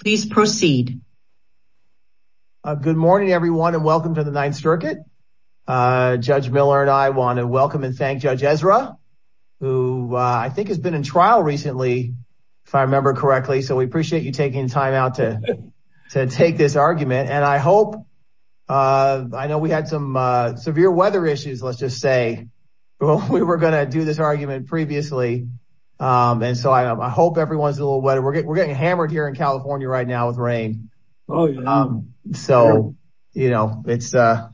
Please proceed. Good morning everyone and welcome to the Ninth Circuit. Judge Miller and I want to welcome and thank Judge Ezra who I think has been in trial recently if I remember correctly so we appreciate you taking time out to to take this argument and I hope I know we had some severe weather issues let's just say well we were going to do this argument previously and so I hope everyone's a little wet we're getting hammered here in California right now with rain oh yeah um so you know it's uh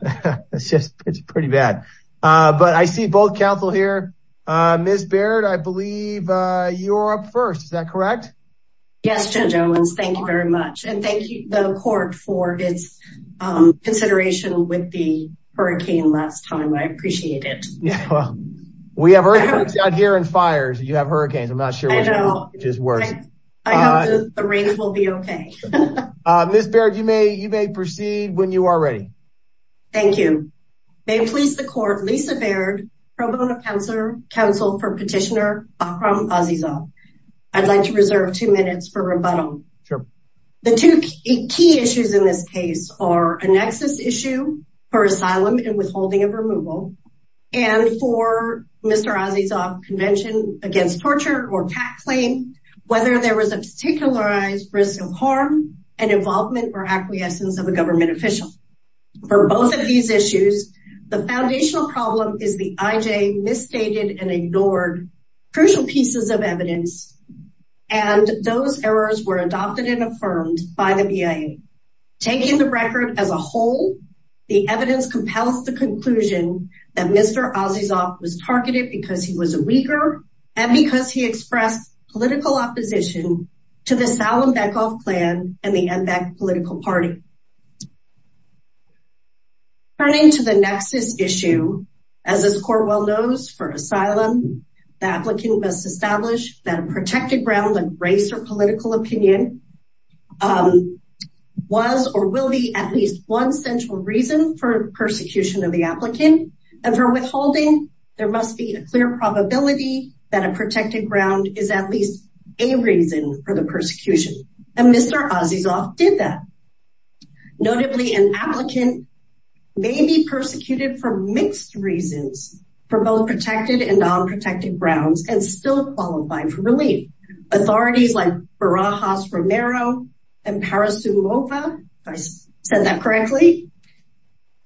it's just it's pretty bad uh but I see both counsel here uh Ms. Baird I believe uh you're up first is that correct? Yes Judge Owens thank you very much and thank you the court for its um consideration with the hurricane last time I appreciate it. Yeah well we have earthquakes out here and fires you have hurricanes I'm not sure which is worse. I hope the rain will be okay. Ms. Baird you may you may proceed when you are ready. Thank you. May it please the court Lisa Baird pro bono counselor counsel for petitioner Akram Azizov. I'd like to reserve two minutes for rebuttal. Sure. The two key issues in this case are a nexus issue for asylum and withholding of removal and for Mr. Azizov convention against torture or tax claim whether there was a particularized risk of harm and involvement or acquiescence of a government official. For both of these issues the foundational problem is the IJ misstated and ignored crucial pieces of evidence and those errors were adopted and affirmed by the BIA taking the record as a whole. The evidence compels the conclusion that Mr. Azizov was targeted because he was a Uyghur and because he expressed political opposition to the Salem-Beckoff plan and the MBEC political party. Turning to the nexus issue as this court well knows for asylum the applicant must establish that a protected ground of race or political opinion was or will be at least one central reason for persecution of the applicant and for withholding there must be a clear probability that a protected ground is at least a reason for the persecution and Mr. Azizov did that. Notably an applicant may be persecuted for mixed reasons for both protected and non-protected grounds and still qualifying for relief. Authorities like Barajas Romero and Parasumova if I said that correctly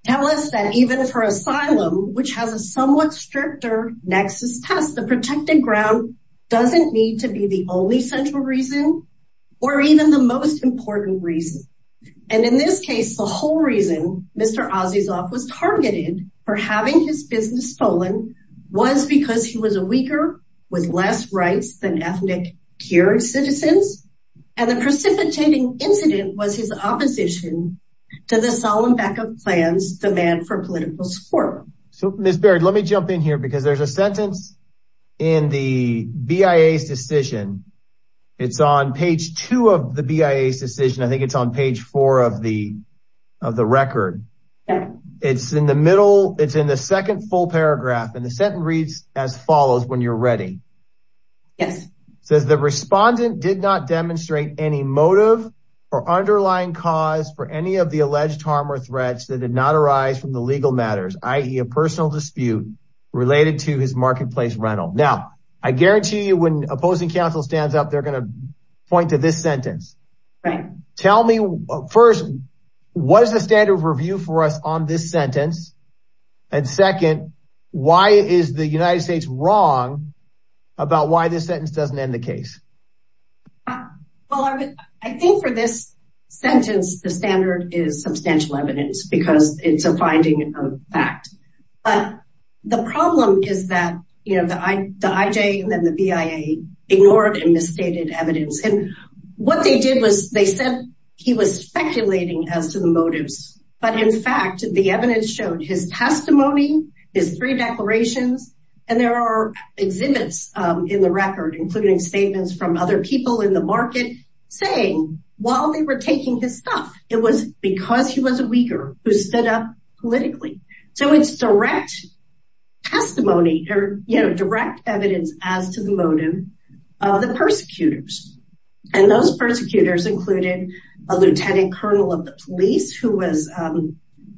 tell us that even for asylum which has a somewhat stricter nexus test the protected ground doesn't need to be the only central reason or even the most important reason and in this case the whole reason Mr. Azizov was targeted for having his business stolen was because he was a Uyghur with less rights than ethnic Kyrgyz citizens and the precipitating incident was his opposition to the Salem-Beckoff plans demand for political support. So Ms. Baird let me jump in here because there's a sentence in the BIA's decision it's on page two of the BIA's decision I think it's on page four of the of the record it's in the middle it's in the second full paragraph and the sentence reads as follows when you're ready. Yes. Says the respondent did not demonstrate any motive or underlying cause for any of the alleged harm or threats that did not arise from the legal matters i.e. a personal dispute related to his marketplace rental. Now I guarantee you when opposing counsel stands up they're going to point to this sentence. Right. Tell me first what is the standard of review for us on this and second why is the United States wrong about why this sentence doesn't end the case? Well I think for this sentence the standard is substantial evidence because it's a finding of fact but the problem is that you know the IJ and then the BIA ignored and misstated evidence and what they did was they said he was speculating as to the motives but in fact the evidence showed his testimony his three declarations and there are exhibits in the record including statements from other people in the market saying while they were taking his stuff it was because he was a Uyghur who stood up politically. So it's direct testimony or you know direct evidence as to the motive of the persecutors and those persecutors included a lieutenant colonel of the police who was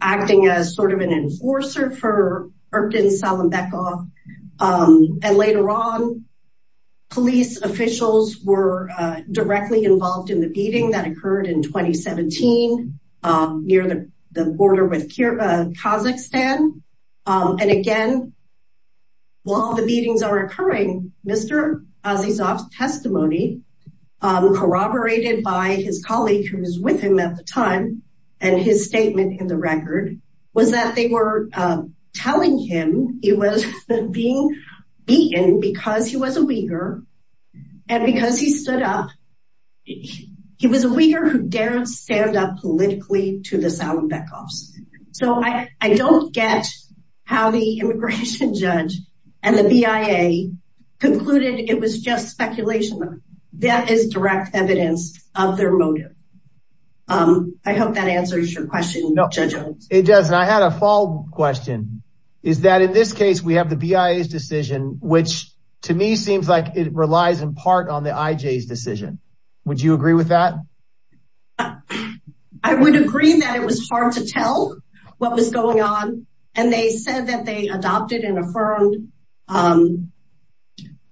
acting as sort of an enforcer for Erbten Salambekov and later on police officials were directly involved in the beating that occurred in 2017 near the border with Kazakhstan and again while the beatings are occurring Mr. Azizov's testimony corroborated by his colleague who was with him at the time and his statement in the record was that they were telling him he was being beaten because he was a Uyghur and because he stood up he was a Uyghur who dared stand up politically to the Salambekovs. So I don't get how the immigration judge and the BIA concluded it was just speculation that is direct evidence of their motive. I hope that answers your question Judge Owens. It does and I had a follow-up question is that in this case we have the BIA's decision which to me seems like it relies in part on the IJ's decision. Would you agree with that? I would agree that it was hard to tell what was going on and they said that they adopted and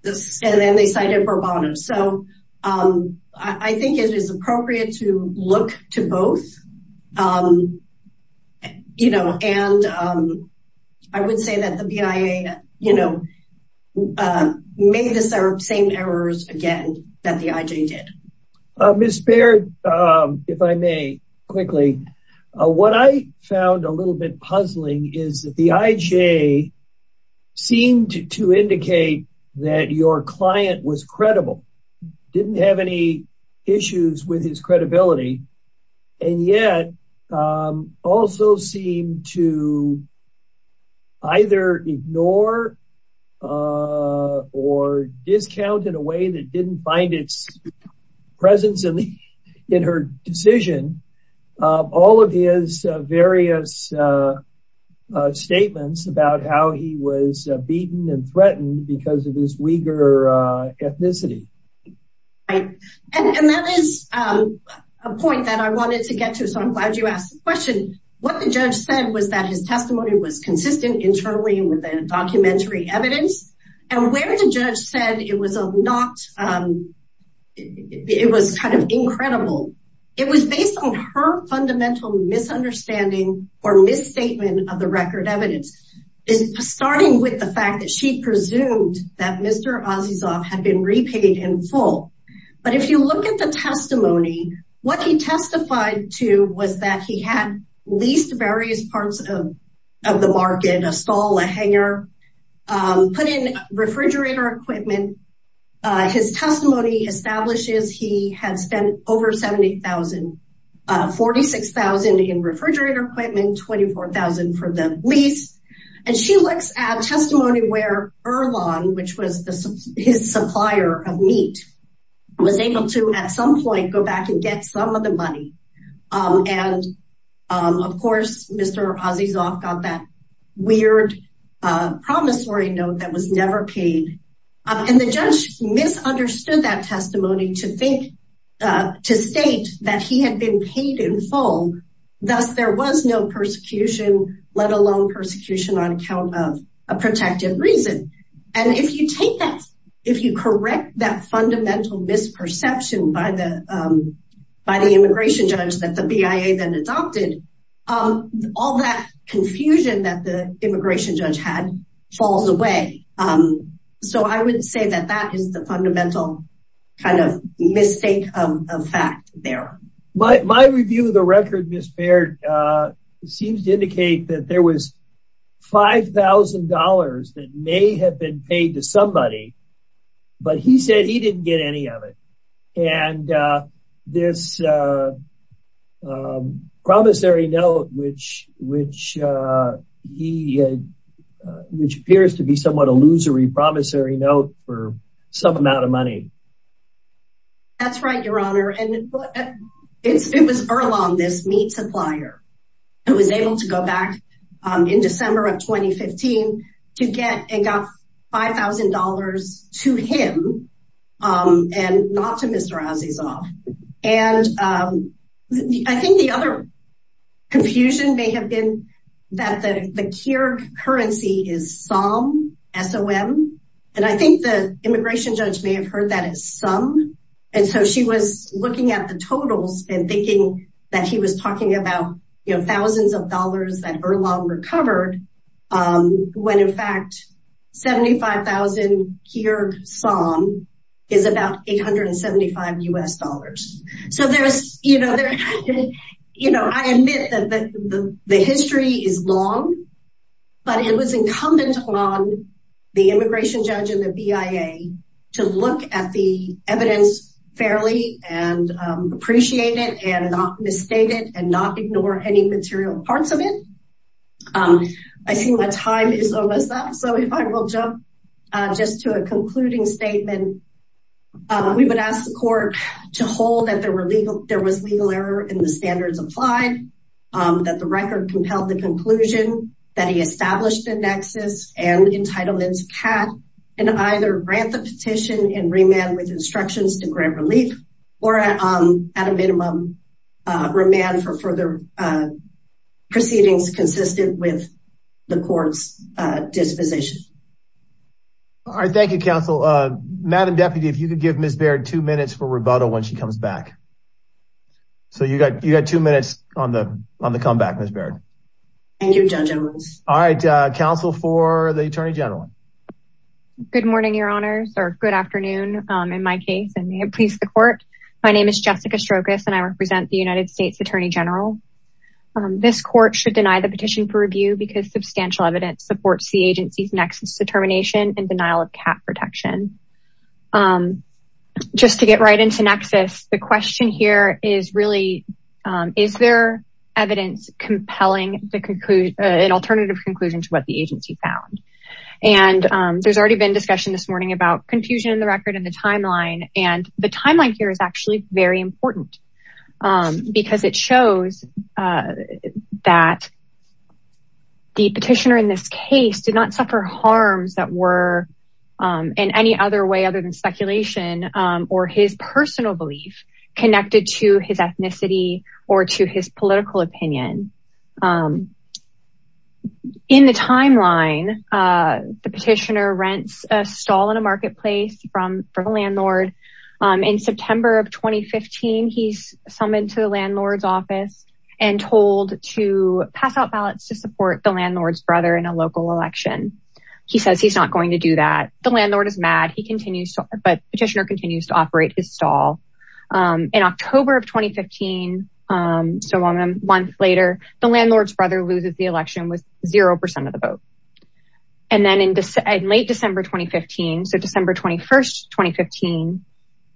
this and then they cited Bourbon. So I think it is appropriate to look to both you know and I would say that the BIA you know made the same errors again that the IJ did. Ms. Baird if I may quickly what I found a little bit puzzling is that the IJ seemed to indicate that your client was credible, didn't have any issues with his credibility and yet also seemed to either ignore or discount in a way that didn't find its presence in her decision all of his various statements about how he was beaten and threatened because of his Uyghur ethnicity. Right and that is a point that I wanted to get to so I'm glad you asked the question. What the judge said was that his testimony was consistent internally with the documentary evidence and where the judge said it was a not it was kind of incredible. It was based on her fundamental misunderstanding or misstatement of the record evidence. Starting with the fact that she presumed that Mr. Azizov had been repaid in full but if you look at the testimony what he testified to was that he had leased various parts of the market, a stall, a hangar, put in refrigerator equipment. His testimony establishes he had spent over $70,000, $46,000 in refrigerator equipment, $24,000 for the lease and she looks at testimony where Erlan which was his supplier of meat was able to at some point go back and get some of the money and of course Mr. Azizov got that weird promissory note that was never paid and the judge misunderstood that testimony to think to state that he had been paid in full thus there was no persecution let alone persecution on a protective reason. If you correct that fundamental misperception by the immigration judge that the BIA then adopted all that confusion that the immigration judge had falls away. So I would say that that is the fundamental kind of mistake of fact there. My review of the record Ms. Baird seems to indicate that there was $5,000 that may have been paid to somebody but he said he didn't get any of it and this promissory note which appears to be somewhat illusory promissory note for some amount of supplier who was able to go back in December of 2015 to get and got $5,000 to him and not to Mr. Azizov and I think the other confusion may have been that the the cure currency is some SOM and I think the immigration judge may have heard that as some and so she was looking at the totals and thinking that he was talking about you know thousands of dollars that are longer covered when in fact 75,000 here SOM is about 875 U.S. dollars. So there's you know you know I admit that the the history is long but it was incumbent on the immigration judge and the BIA to look at the evidence fairly and appreciate it and not misstate it and not ignore any material parts of it. I see my time is almost up so if I will jump just to a concluding statement we would ask the court to hold that there were legal there was legal error in the standards applied that the record compelled the conclusion that he established a nexus and entitlements had and either grant the petition and remand with instructions to grant relief or at a minimum remand for further proceedings consistent with the court's disposition. All right thank you counsel. Madam Deputy if you could give Ms. Baird two minutes for rebuttal when she comes back. So you got you got two minutes on the on the comeback Ms. Baird. Thank you Judge Edwards. All right counsel for the Attorney General. Good morning your honors or good afternoon in my case and may it please the court. My name is Jessica Strokos and I represent the United States Attorney General. This court should deny the petition for review because substantial evidence supports the agency's nexus determination and denial of cap protection. Just to get right into nexus the question here is really is there evidence compelling the conclusion an alternative conclusion to what the agency found and there's already been discussion this morning about confusion in the record in the timeline and the timeline here is actually very important because it shows that the petitioner in this case did not suffer harms that were in any other way other than speculation or his personal belief connected to his ethnicity or to his political opinion. In the timeline the petitioner rents a stall in a marketplace from for the landlord in September of 2015 he's summoned to the landlord's office and told to pass out ballots to support the landlord's brother in a local election. He says he's not going to do that the landlord is mad he continues but petitioner continues to operate his stall. In October of 2015 so one month later the landlord's brother loses the election with zero percent of the vote and then in late December 2015 so December 21st 2015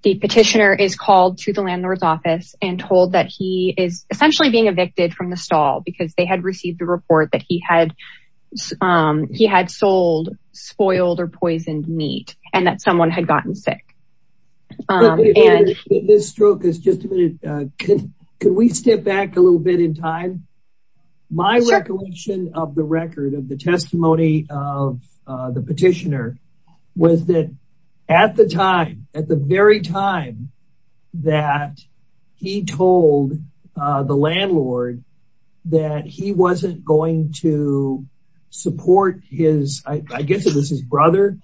the petitioner is called to the landlord's office and told that he is essentially being evicted from the stall because they had received a report that he had sold spoiled or poisoned meat and that someone had gotten sick. Can we step back a little bit in time my recollection of the record of the testimony of the petitioner was that at the time at the very time that he told the landlord that he wasn't going to support his I guess it was his brother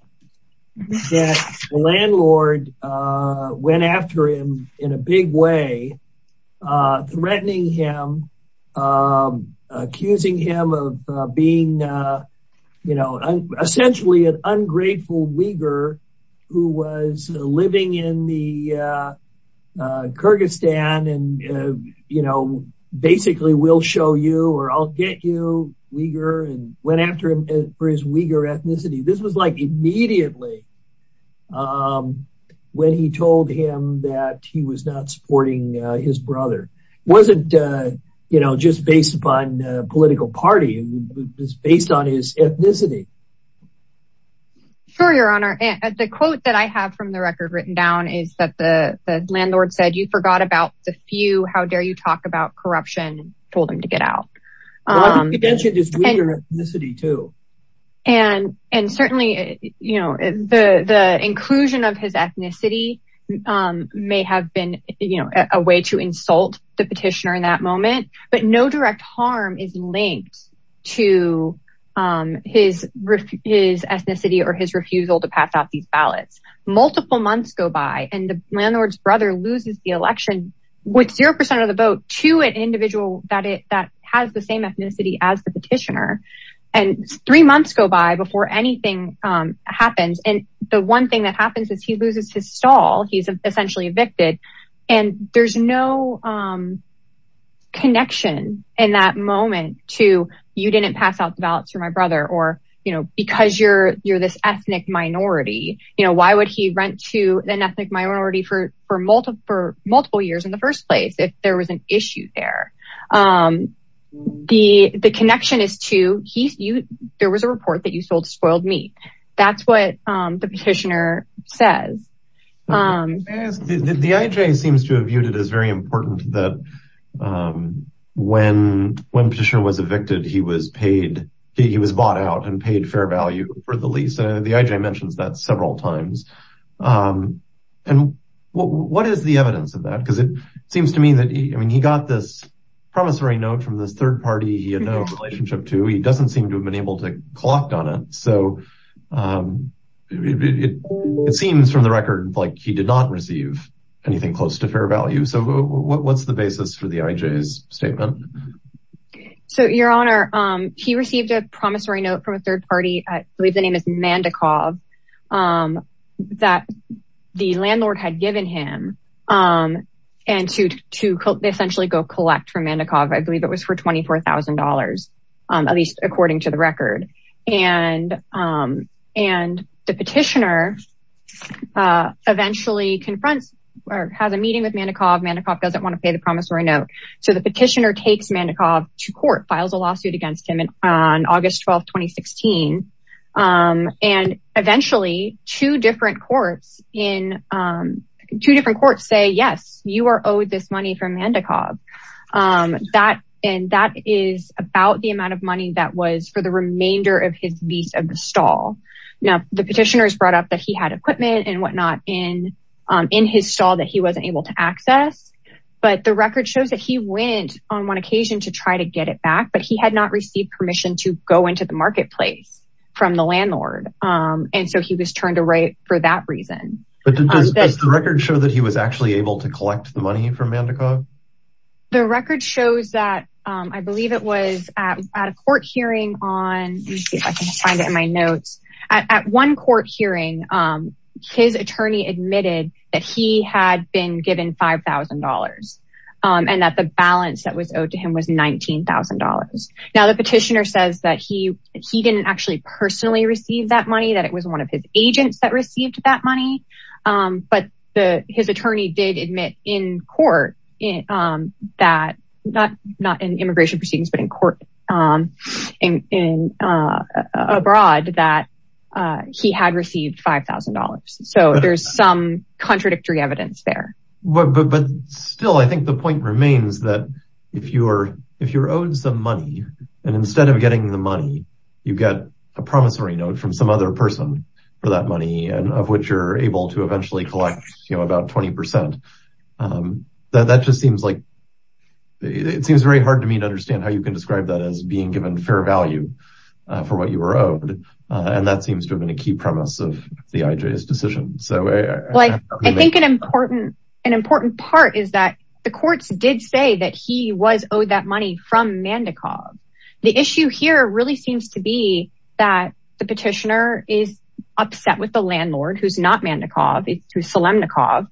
that the landlord went after him in a big way threatening him accusing him of being you know essentially an ungrateful Uyghur who was living in the Kyrgyzstan and you know basically will show you or I'll get you Uyghur and went after him for his Uyghur ethnicity this was like immediately um when he told him that he was not supporting his brother wasn't uh you know just based upon the political party it was based on his ethnicity. Sure your honor and the quote that I have from the record written down is that the landlord said you forgot about the few how dare you talk about the inclusion of his ethnicity um may have been you know a way to insult the petitioner in that moment but no direct harm is linked to um his his ethnicity or his refusal to pass out these ballots multiple months go by and the landlord's brother loses the election with zero percent of the vote to an individual that it that has the same ethnicity as the petitioner and three months go by before anything um happens and the one thing that happens is he loses his stall he's essentially evicted and there's no um connection in that moment to you didn't pass out the ballots for my brother or you know because you're you're this ethnic minority you know why would he rent to an ethnic minority for for multiple for multiple years in the first place if there was an issue there um the the connection is to he you there was a report that you sold spoiled meat that's what um the petitioner says um the ij seems to have viewed it as very important that um when when petitioner was evicted he was paid he was bought out and paid fair value for the lease the ij mentions that several times um and what what is the evidence of that because it he got this promissory note from this third party he had no relationship to he doesn't seem to have been able to clocked on it so um it seems from the record like he did not receive anything close to fair value so what's the basis for the ij's statement so your honor um he received a promissory note from a third party i believe the name is mandikov um that the landlord had given him um and to to essentially go collect from mandikov i believe it was for twenty four thousand dollars um at least according to the record and um and the petitioner uh eventually confronts or has a meeting with mandikov mandikov doesn't want to pay the promissory note so the petitioner takes mandikov to court files a lawsuit against him and on august 12 2016 um and eventually two different courts in um two different courts say yes you are owed this money from mandikov um that and that is about the amount of money that was for the remainder of his lease of the stall now the petitioners brought up that he had equipment and whatnot in um in his stall that he wasn't able to access but the record shows that he went on one occasion to try to get it back but he had not received permission to go into the marketplace from the landlord um and so he was for that reason but does the record show that he was actually able to collect the money from mandikov the record shows that um i believe it was at a court hearing on let me see if i can find it in my notes at one court hearing um his attorney admitted that he had been given five thousand dollars um and that the balance that was owed to him was nineteen thousand dollars now the petitioner that he he didn't actually personally receive that money that it was one of his agents that received that money um but the his attorney did admit in court um that not not in immigration proceedings but in court um in uh abroad that uh he had received five thousand dollars so there's some contradictory evidence there but but still i think the point remains that if you're if you're some money and instead of getting the money you get a promissory note from some other person for that money and of which you're able to eventually collect you know about 20 percent that just seems like it seems very hard to me to understand how you can describe that as being given fair value for what you were owed and that seems to have been a key premise of the ijs decision so i think an important an important part is that the courts did say that he was owed that money from mandikov the issue here really seems to be that the petitioner is upset with the landlord who's not mandikov it was solemnikov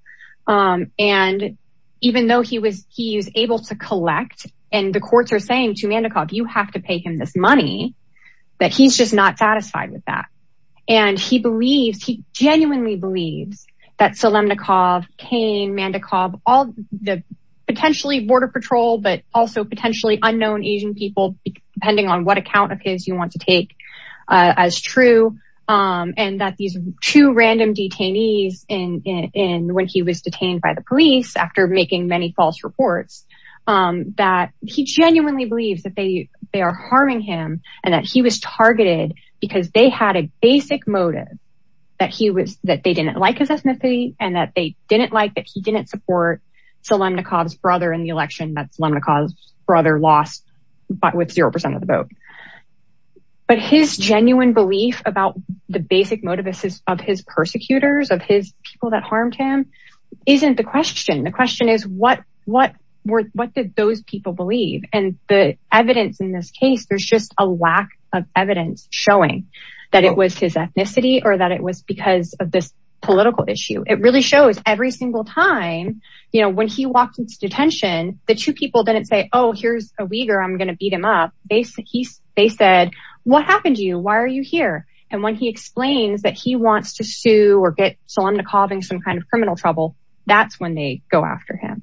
um and even though he was he was able to collect and the courts are saying to mandikov you have to pay him this money that he's just not satisfied with that and he believes he genuinely believes that solemnikov kane mandikov all the potentially border patrol but also potentially unknown asian people depending on what account of his you want to take uh as true um and that these two random detainees in in when he was detained by the police after making many false reports um that he genuinely believes that they they are harming him and that he was targeted because they had a basic motive that he was that they didn't like his solemnikov's brother lost but with zero percent of the vote but his genuine belief about the basic motivuses of his persecutors of his people that harmed him isn't the question the question is what what were what did those people believe and the evidence in this case there's just a lack of evidence showing that it was his ethnicity or that it was because of this political issue it really every single time you know when he walked into detention the two people didn't say oh here's a weaver i'm gonna beat him up they said he they said what happened to you why are you here and when he explains that he wants to sue or get solemnikov in some kind of criminal trouble that's when they go after him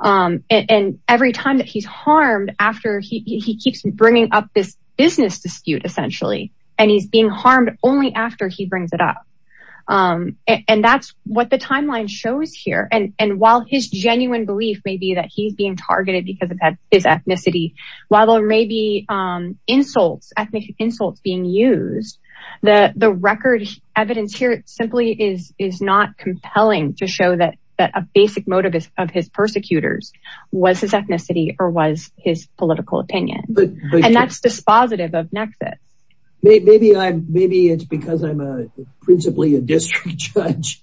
um and every time that he's harmed after he he keeps bringing up this business dispute essentially and he's being harmed only after he brings it up um and that's what the timeline shows here and and while his genuine belief may be that he's being targeted because of his ethnicity while there may be um insults ethnic insults being used the the record evidence here simply is is not compelling to show that that a basic motive of his persecutors was his ethnicity or was his political opinion and that's dispositive of nexus maybe i'm maybe it's because i'm a principally a district judge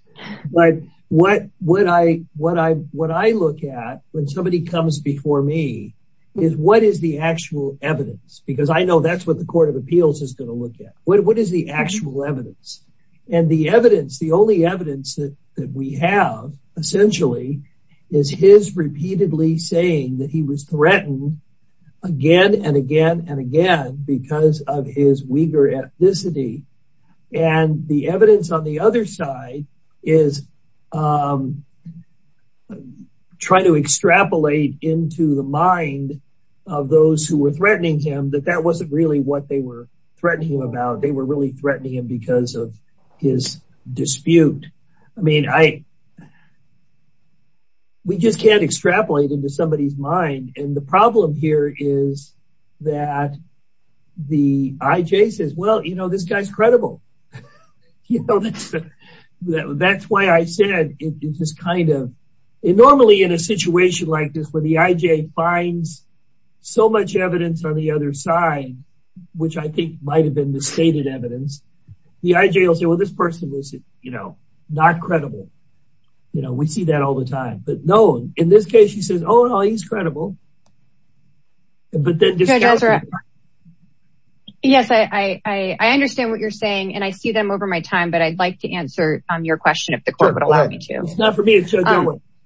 but what what i what i what i look at when somebody comes before me is what is the actual evidence because i know that's what the court of appeals is going to look at what is the actual evidence and the evidence the only evidence that that we have essentially is his repeatedly saying that he was threatened again and again and again because of his Uyghur ethnicity and the evidence on the other side is um try to extrapolate into the mind of those who were threatening him that that wasn't really what they were threatening him about they were really threatening him because of his dispute i mean i we just can't extrapolate into somebody's mind and the problem here is that the ij says well you know this guy's credible you know that's that's why i said it just kind of normally in a situation like this where the ij finds so much evidence on the other side which i think might have been the stated evidence the ij will say well this person is you know not credible you know we see that all the time but no in this case he says oh no he's credible but then yes i i i understand what you're saying and i see them over my time but i'd like to answer um your question if the court would allow me to it's not for me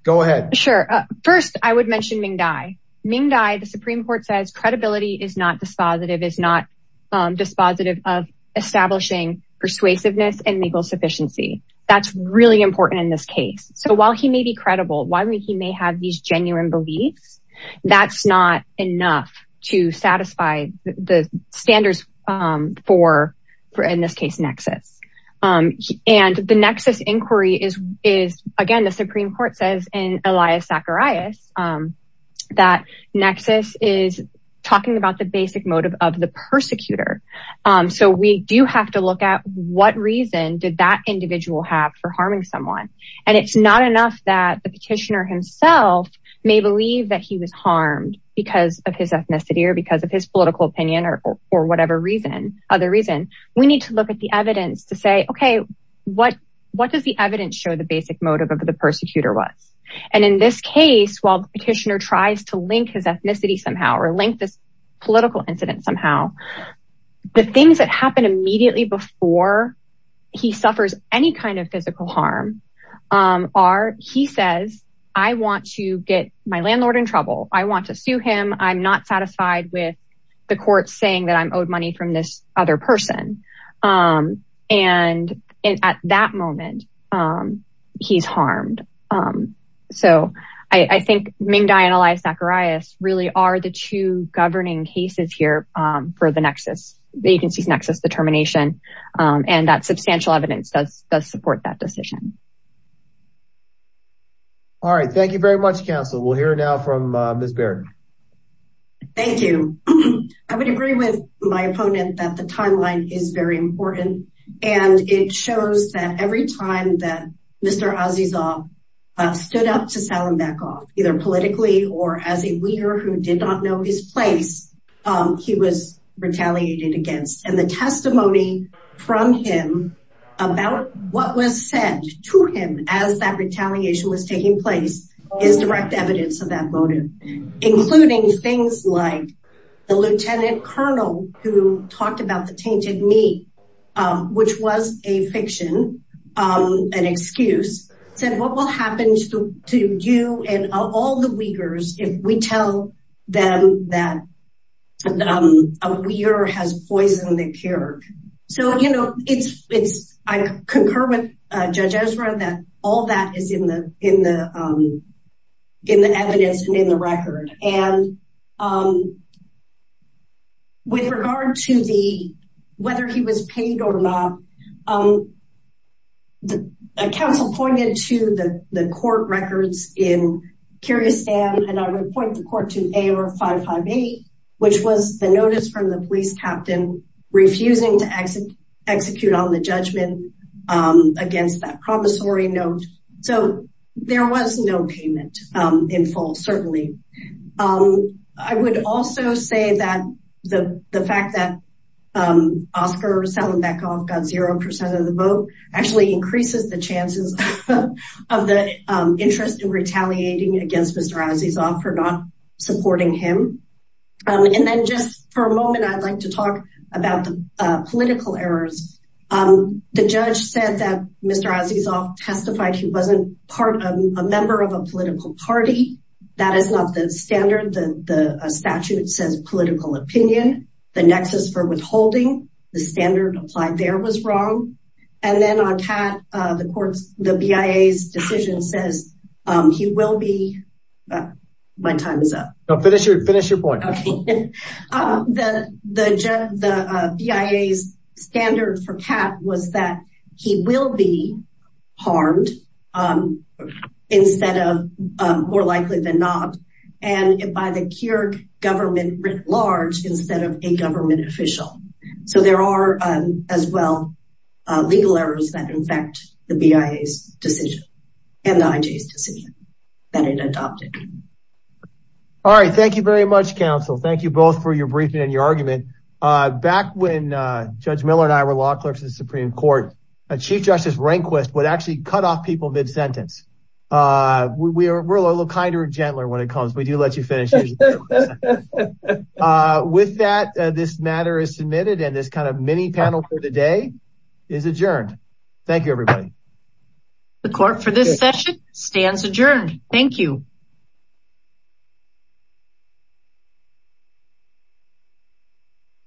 go ahead sure uh first i would mention ming dai ming dai the supreme court says credibility is not dispositive is not dispositive of establishing persuasiveness and legal sufficiency that's really important in this case so while he may be credible why he may have these genuine beliefs that's not enough to satisfy the standards um for for in this case nexus um and the nexus inquiry is is again the supreme court says in elias zacharias um that nexus is talking about the basic motive of the persecutor um so we do have to look at what reason did that individual have for harming someone and it's not enough that the petitioner himself may believe that he was harmed because of his ethnicity or because of his political opinion or for whatever reason other reason we need to look at the evidence to say okay what what does the evidence show the basic motive of the persecutor was and in this case while the petitioner tries to link his ethnicity somehow or link this political incident somehow the things that happen immediately before he suffers any kind of physical harm um are he says i want to get my landlord in trouble i want to sue him i'm not satisfied with the court saying that i'm owed money from this other person um and and at that moment um he's harmed um so i i think ming dai and elias zacharias really are the two governing cases here um for the nexus the agency's nexus determination um and that substantial evidence does does support that decision all right thank you very much counsel we'll hear now from uh miss baird thank you i would agree with my opponent that the timeline is very important and it shows that every time that mr azizah stood up to sell him back off either politically or as a leader who did not know his place um he was retaliated against and the testimony from him about what was said to him as that retaliation was taking place is direct evidence of that motive including things like the lieutenant colonel who talked about the tainted meat um which was a fiction um an excuse said what will happen to to you and all the weakers if we tell them that um a weir has poisoned the kirk so you know it's it's i concur with uh judge ezra that all that is in the in the in the evidence and in the record and um with regard to the whether he was paid or not um the council pointed to the the court records in kyrgyzstan and i would point the court to a or five five eight which was the notice from the police captain refusing to exit execute on the judgment um against that promissory note so there was no payment um in full certainly um i would also say that the the fact that um oscar selling back off got zero percent of the vote actually increases the chances of the interest in retaliating against mr azizah for not supporting him um and then just for a moment i'd like to talk about the uh political errors um the judge said that mr azizah testified he wasn't part of a member of a political party that is not the standard the the statute says political opinion the nexus for withholding the standard applied there was wrong and then on cat uh the courts the bia's decision says um he will be my time is up no finish your finish your point um the the the bia's standard for pat was that he will be harmed um instead of more likely than not and by the kyrgyz government writ large instead of a government official so there are um as well uh legal errors that infect the bia's decision and the ij's decision that it adopted all right thank you very much counsel thank you both for your briefing and your argument uh back when uh judge miller and i were law clerks in the supreme court a chief justice rehnquist would actually cut off people mid-sentence uh we're a little kinder and gentler when it comes we do let you finish with that this matter is submitted and this kind of mini panel for the day is adjourned thank you everybody the court for this session stands adjourned thank you